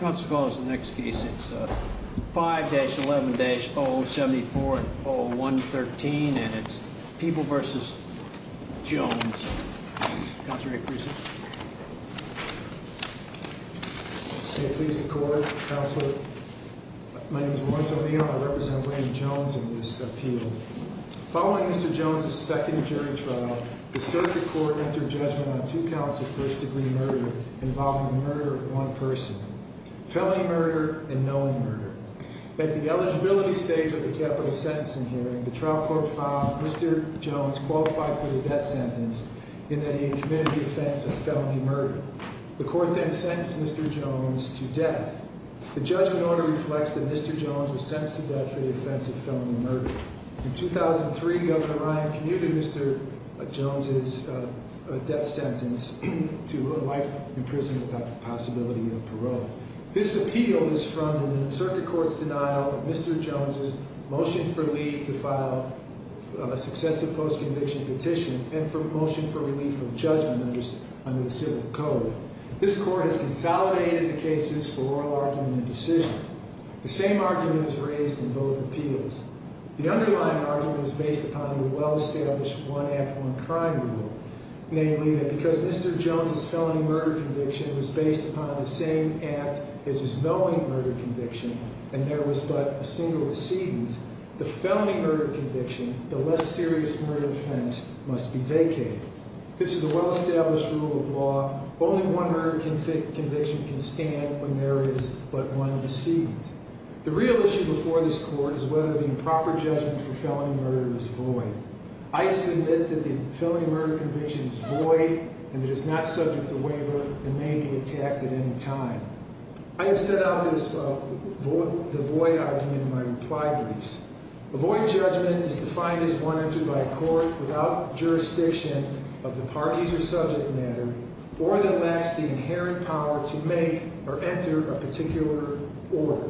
Councilors, the next case is 5-11-074-0113 and it's People v. Jones. Counselor, may I present? May it please the Court, Counselor. My name is Lawrence O'Neill and I represent Wayne Jones in this appeal. Following Mr. Jones' second jury trial, the circuit court entered judgment on two counts of first-degree murder involving the murder of one person. Felony murder and knowing murder. At the eligibility stage of the capital sentencing hearing, the trial court found Mr. Jones qualified for the death sentence in that he had committed the offense of felony murder. The court then sentenced Mr. Jones to death. The judgment order reflects that Mr. Jones was sentenced to death for the offense of felony murder. In 2003, Governor Ryan commuted Mr. Jones' death sentence to life in prison without the possibility of parole. This appeal is from the circuit court's denial of Mr. Jones' motion for leave to file a successive post-conviction petition and for motion for relief of judgment under the civil code. This court has consolidated the cases for oral argument and decision. The same argument is raised in both appeals. The underlying argument is based upon the well-established one-act-one-crime rule, namely that because Mr. Jones' felony murder conviction was based upon the same act as his knowing murder conviction and there was but a single decedent, the felony murder conviction, the less serious murder offense, must be vacated. This is a well-established rule of law. Only one murder conviction can stand when there is but one decedent. The real issue before this court is whether the improper judgment for felony murder is void. I submit that the felony murder conviction is void and that it is not subject to waiver and may be attacked at any time. I have set out the void argument in my reply briefs. A void judgment is defined as one entered by a court without jurisdiction of the parties or subject matter or that lacks the inherent power to make or enter a particular order.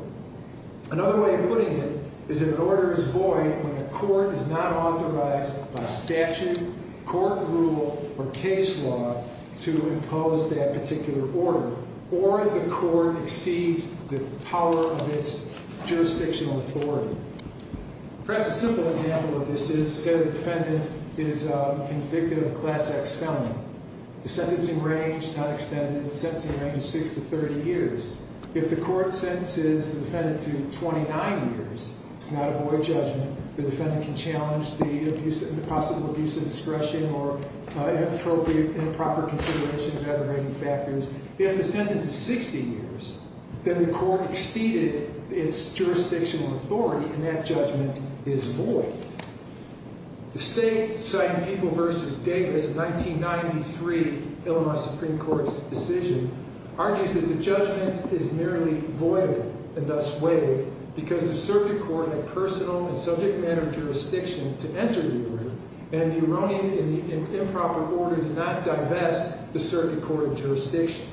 Another way of putting it is that an order is void when a court is not authorized by statute, court rule, or case law to impose that particular order or the court exceeds the power of its jurisdictional authority. Perhaps a simple example of this is say the defendant is convicted of a Class X felony. The sentencing range is not extended. The sentencing range is six to 30 years. If the court sentences the defendant to 29 years, it's not a void judgment. The defendant can challenge the possible abuse of discretion or inappropriate, improper consideration of aggravating factors. If the sentence is 60 years, then the court exceeded its jurisdictional authority and that judgment is void. The state, citing People v. Davis in 1993, Illinois Supreme Court's decision, argues that the judgment is merely void and thus waived because the circuit court had personal and subject matter jurisdiction to enter the order and the erroneous and improper order did not divest the circuit court of jurisdiction.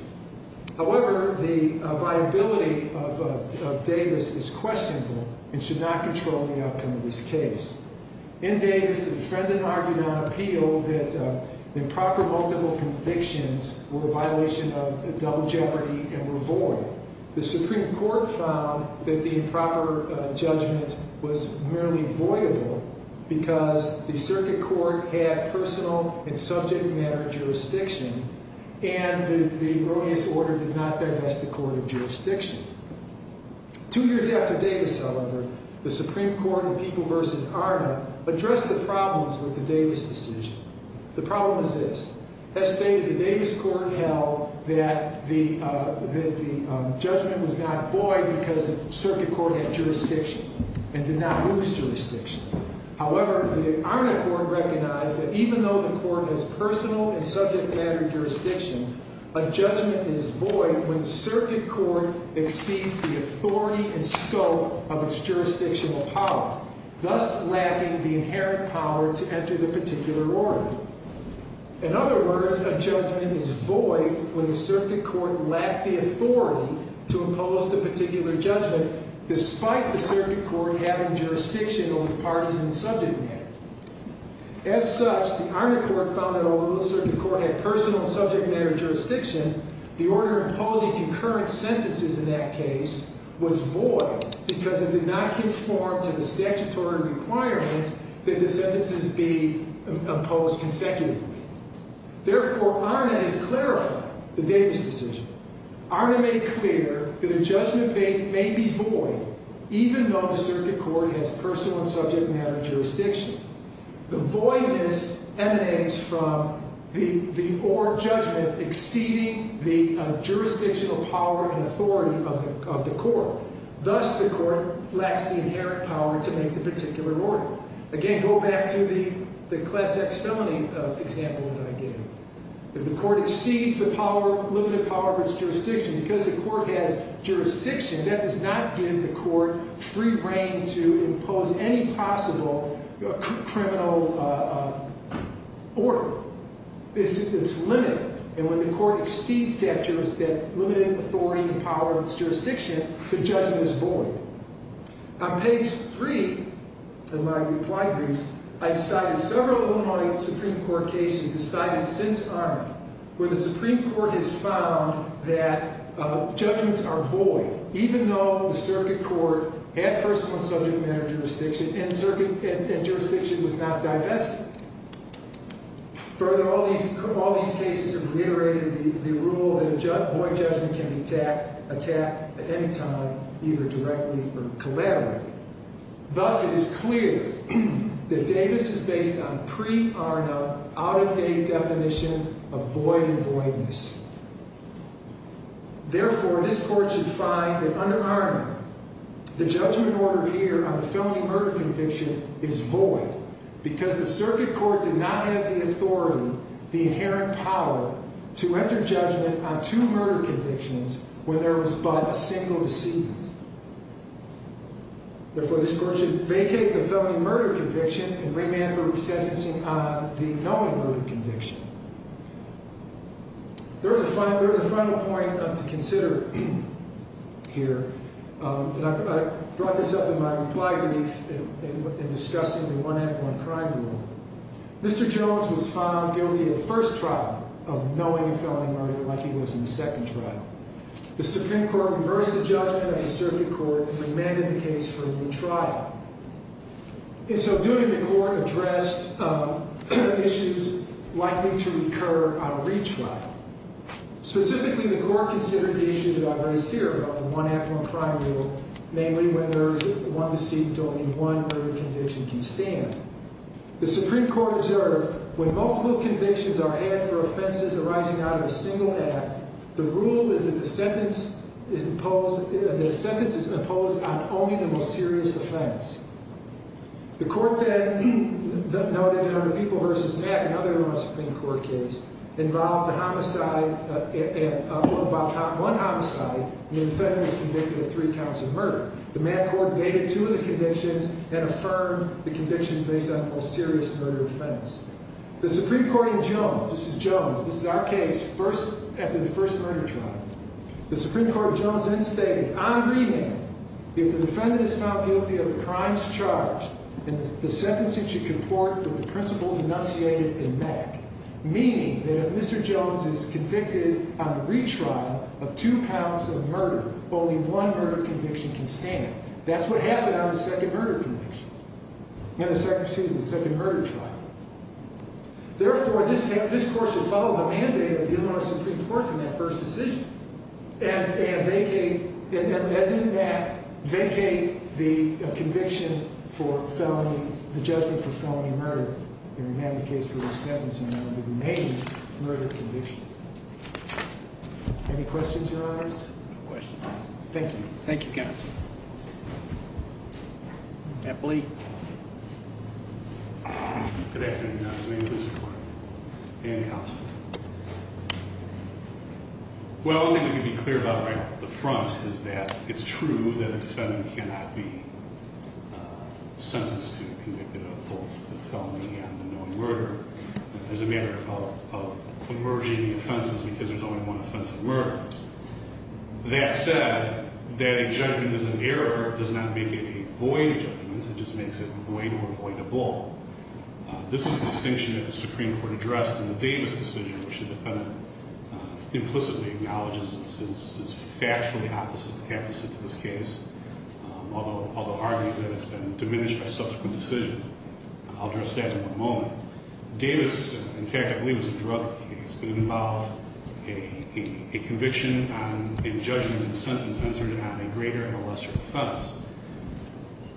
However, the viability of Davis is questionable and should not control the outcome of this case. In Davis, the defendant argued on appeal that improper multiple convictions were a violation of double jeopardy and were void. The Supreme Court found that the improper judgment was merely voidable because the circuit court had personal and subject matter jurisdiction and the erroneous order did not divest the court of jurisdiction. Two years after Davis, however, the Supreme Court in People v. Arner addressed the problems with the Davis decision. The problem is this. As stated, the Davis court held that the judgment was not void because the circuit court had jurisdiction and did not lose jurisdiction. However, the Arner court recognized that even though the court has personal and subject matter jurisdiction, a judgment is void when the circuit court exceeds the authority and scope of its jurisdictional power, thus lacking the inherent power to enter the particular order. In other words, a judgment is void when the circuit court lacked the authority to impose the particular judgment despite the circuit court having jurisdiction over parties and subject matter. As such, the Arner court found that although the circuit court had personal and subject matter jurisdiction, the order imposing concurrent sentences in that case was void because it did not conform to the statutory requirement that the sentences be imposed consecutively. Therefore, Arner has clarified the Davis decision. Arner made clear that a judgment may be void even though the circuit court has personal and subject matter jurisdiction. The voidness emanates from the order of judgment exceeding the jurisdictional power and authority of the court. Thus, the court lacks the inherent power to make the particular order. Again, go back to the class X felony example that I gave. If the court exceeds the limited power of its jurisdiction, because the court has jurisdiction, that does not give the court free reign to impose any possible criminal order. It's limited. And when the court exceeds that limited authority and power of its jurisdiction, the judgment is void. On page 3 of my reply briefs, I've cited several Illinois Supreme Court cases decided since Arner where the Supreme Court has found that judgments are void even though the circuit court had personal and subject matter jurisdiction and jurisdiction was not divested. Further, all these cases have reiterated the rule that a void judgment can be attacked at any time, either directly or collaterally. Thus, it is clear that Davis is based on pre-Arner out-of-date definition of void and voidness. Therefore, this court should find that under Arner, the judgment order here on the felony murder conviction is void because the circuit court did not have the authority, the inherent power, to enter judgment on two murder convictions when there was but a single deceit. Therefore, this court should vacate the felony murder conviction and remand for resentencing on the knowing murder conviction. There is a final point to consider here. I brought this up in my reply brief in discussing the one act, one crime rule. Mr. Jones was found guilty of the first trial of knowing a felony murder like he was in the second trial. The Supreme Court reversed the judgment of the circuit court and remanded the case for a new trial. In so doing, the court addressed issues likely to recur on a retrial. Specifically, the court considered the issue that I raised here about the one act, one crime rule, namely when there is one deceit, only one murder conviction can stand. The Supreme Court observed when multiple convictions are had for offenses arising out of a single act, the rule is that the sentence is imposed on only the most serious offense. The court then noted how the People v. Mack, another Supreme Court case, involved one homicide and the defendant was convicted of three counts of murder. The Mack court vetted two of the convictions and affirmed the conviction based on the most serious murder offense. The Supreme Court in Jones, this is Jones, this is our case after the first murder trial. The Supreme Court Jones then stated on remand, if the defendant is found guilty of the crimes charged, then the sentence should comport with the principles enunciated in Mack. Meaning that if Mr. Jones is convicted on the retrial of two counts of murder, only one murder conviction can stand. That's what happened on the second murder conviction, in the second season, the second murder trial. Therefore, this court should follow the mandate of the Illinois Supreme Court in that first decision. And vacate, as in the Mack, vacate the conviction for felony, the judgment for felony murder. And remand the case for a sentence in order to remain murder conviction. Any questions, your honors? Thank you. Thank you, counsel. Epley. Good afternoon, Your Honor. My name is Epley. And counsel. Well, I think we can be clear about right off the front is that it's true that a defendant cannot be sentenced to a conviction of both a felony and a known murder. As a matter of emerging offenses, because there's only one offense of murder. That said, that a judgment is an error does not make it a void judgment. It just makes it void or avoidable. This is a distinction that the Supreme Court addressed in the Davis decision, which the defendant implicitly acknowledges is factually opposite to this case. Although, the argument is that it's been diminished by subsequent decisions. I'll address that in one moment. Well, Davis, in fact, I believe it was a drug case. But it involved a conviction on a judgment and a sentence entered on a greater or lesser offense.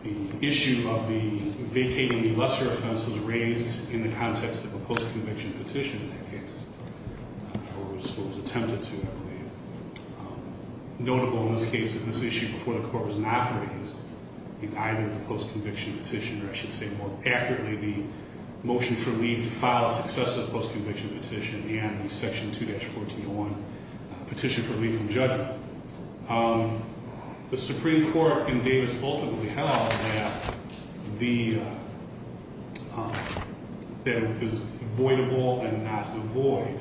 The issue of the vacating the lesser offense was raised in the context of a post-conviction petition in that case. Or was attempted to, I believe. Notable in this case that this issue before the court was not raised in either the post-conviction petition. Or I should say, more accurately, the motion for leave to file successive post-conviction petition. And the section 2-1401 petition for leave from judgment. The Supreme Court in Davis ultimately held that it was avoidable and not to avoid.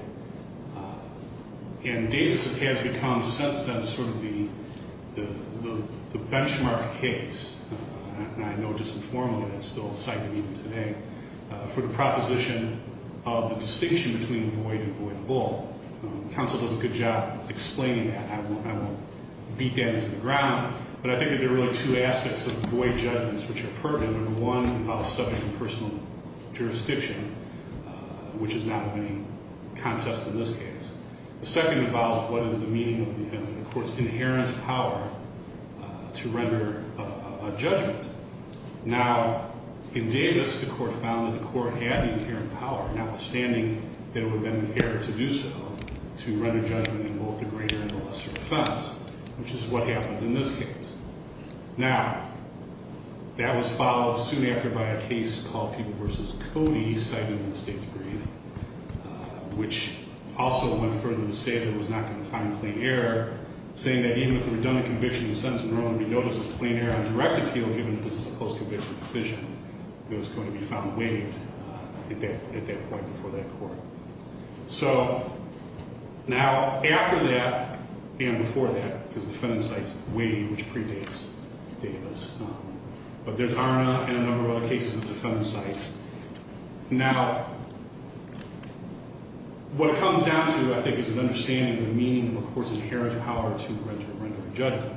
And Davis has become, since then, sort of the benchmark case. And I know just informally that it's still cited even today. For the proposition of the distinction between avoid and avoidable. Counsel does a good job explaining that. I won't beat Dan into the ground. But I think that there are really two aspects of avoid judgments which are pertinent. One involves subject and personal jurisdiction, which is not of any contest in this case. The second involves what is the meaning of the court's inherent power to render a judgment. Now, in Davis, the court found that the court had the inherent power. Notwithstanding that it would have been an error to do so. To render judgment in both the greater and the lesser offense. Which is what happened in this case. Now, that was followed soon after by a case called People v. Cody, cited in the state's brief. Which also went further to say that it was not going to find a plain error. Saying that even with the redundant conviction, the sentence would only be noticed as a plain error on direct appeal, given that this is a post-conviction decision. And it was going to be found waived at that point before that court. So, now, after that, and before that, because the defendant's site is waived, which predates Davis. But there's ARNA and a number of other cases of defendant's sites. Now, what it comes down to, I think, is an understanding of the meaning of a court's inherent power to render a judgment.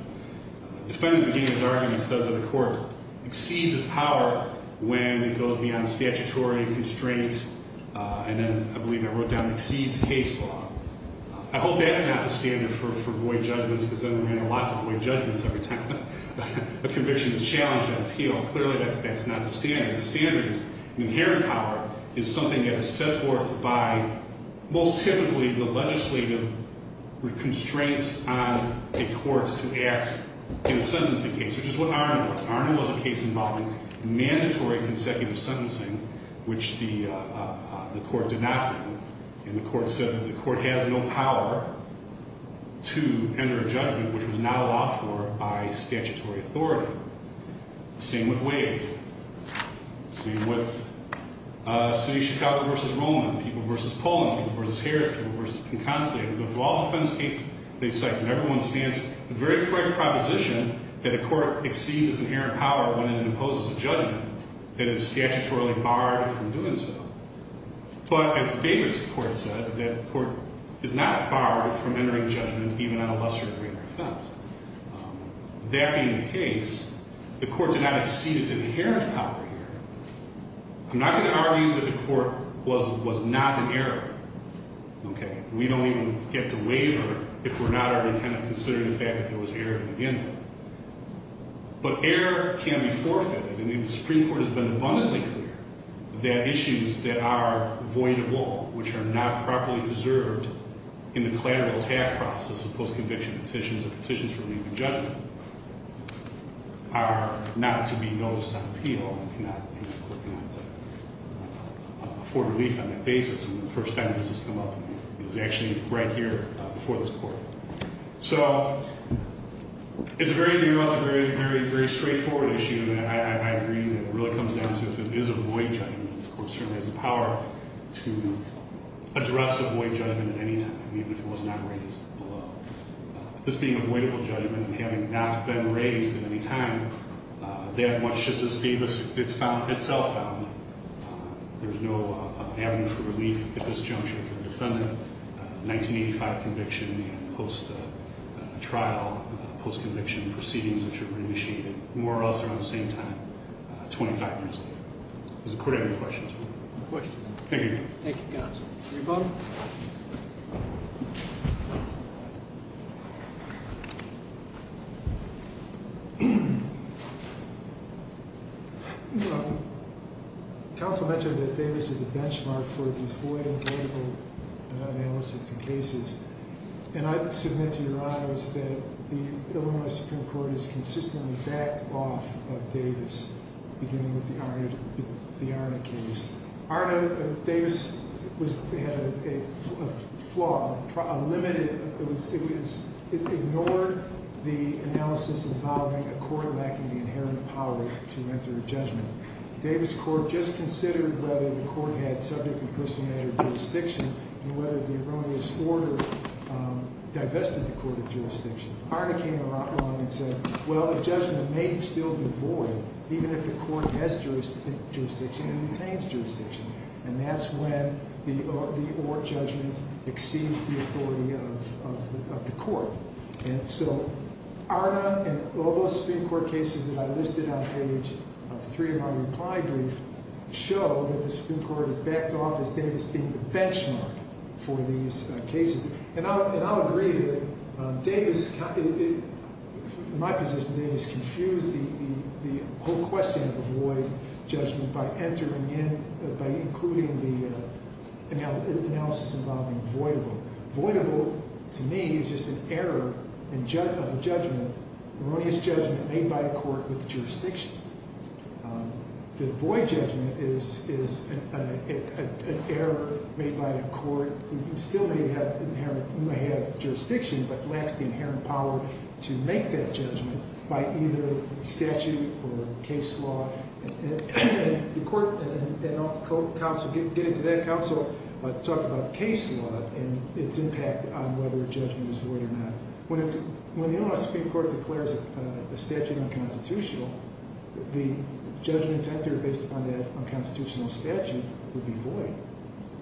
Defendant McGinnis' argument says that a court exceeds its power when it goes beyond statutory constraints. And then, I believe I wrote down, exceeds case law. I hope that's not the standard for void judgments. Because then we're going to have lots of void judgments every time a conviction is challenged on appeal. Clearly, that's not the standard. The standard is inherent power is something that is set forth by, most typically, the legislative constraints on a court to act in a sentencing case, which is what ARNA was. ARNA was a case involving mandatory consecutive sentencing, which the court did not do. And the court said that the court has no power to enter a judgment which was not allowed for by statutory authority. Same with Wade. Same with City of Chicago v. Roman. People v. Poland. People v. Harris. People v. Pinconsi. We go through all defense cases, these sites, and everyone stands, the very correct proposition that a court exceeds its inherent power when it imposes a judgment that is statutorily barred from doing so. But as Davis' court said, that the court is not barred from entering judgment even on a lesser degree of offense. That being the case, the court did not exceed its inherent power here. I'm not going to argue that the court was not an error. Okay? We don't even get to waver if we're not already kind of considering the fact that there was an error at the beginning. But error can be forfeited. I mean, the Supreme Court has been abundantly clear that issues that are voidable, which are not properly preserved in the collateral tax process of post-conviction petitions or petitions for relief in judgment, are not to be noticed on appeal. And the court cannot afford relief on that basis. And the first time this has come up, it was actually right here before this court. So it's very new. It's a very, very straightforward issue. And I agree that it really comes down to if it is a void judgment, the court certainly has the power to address a void judgment at any time, even if it was not raised below. This being a voidable judgment and having not been raised at any time, that much just as Davis itself found, there's no avenue for relief at this juncture for the defendant, 1985 conviction and post-trial, post-conviction proceedings which were initiated more or less around the same time, 25 years later. Does the court have any questions? No questions. Thank you. Thank you, counsel. Are you voting? Counsel mentioned that Davis is the benchmark for the void and voidable analysis in cases. And I submit to your honors that the Illinois Supreme Court has consistently backed off of Davis, beginning with the Arna case. Davis had a flaw, a limit. It ignored the analysis involving a court lacking the inherent power to enter a judgment. Davis Court just considered whether the court had subject and person-measured jurisdiction and whether the erroneous order divested the court of jurisdiction. Arna came along and said, well, the judgment may still be void even if the court has jurisdiction and maintains jurisdiction. And that's when the or judgment exceeds the authority of the court. And so Arna and all those Supreme Court cases that I listed on page three of my reply brief show that the Supreme Court has backed off as Davis being the benchmark for these cases. And I'll agree that Davis, in my position, Davis confused the whole question of a void judgment by entering in, by including the analysis involving voidable. Voidable, to me, is just an error of a judgment, erroneous judgment made by a court with jurisdiction. The void judgment is an error made by the court who still may have jurisdiction but lacks the inherent power to make that judgment by either statute or case law. The court, and I'll get into that counsel, talked about case law and its impact on whether a judgment is void or not. When the Supreme Court declares a statute unconstitutional, the judgments entered based upon that unconstitutional statute would be void.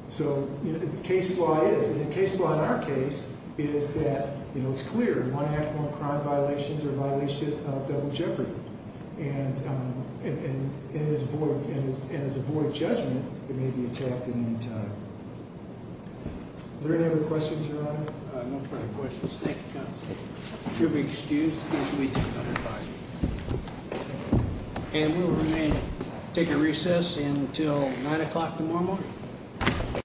So the case law is. And the case law in our case is that it's clear. One act won't crime violations or violation of double jeopardy. And as a void judgment, it may be attacked at any time. Are there any other questions, Your Honor? No further questions. Thank you, counsel. You'll be excused because we take another five minutes. And we'll remain, take a recess until 9 o'clock tomorrow morning.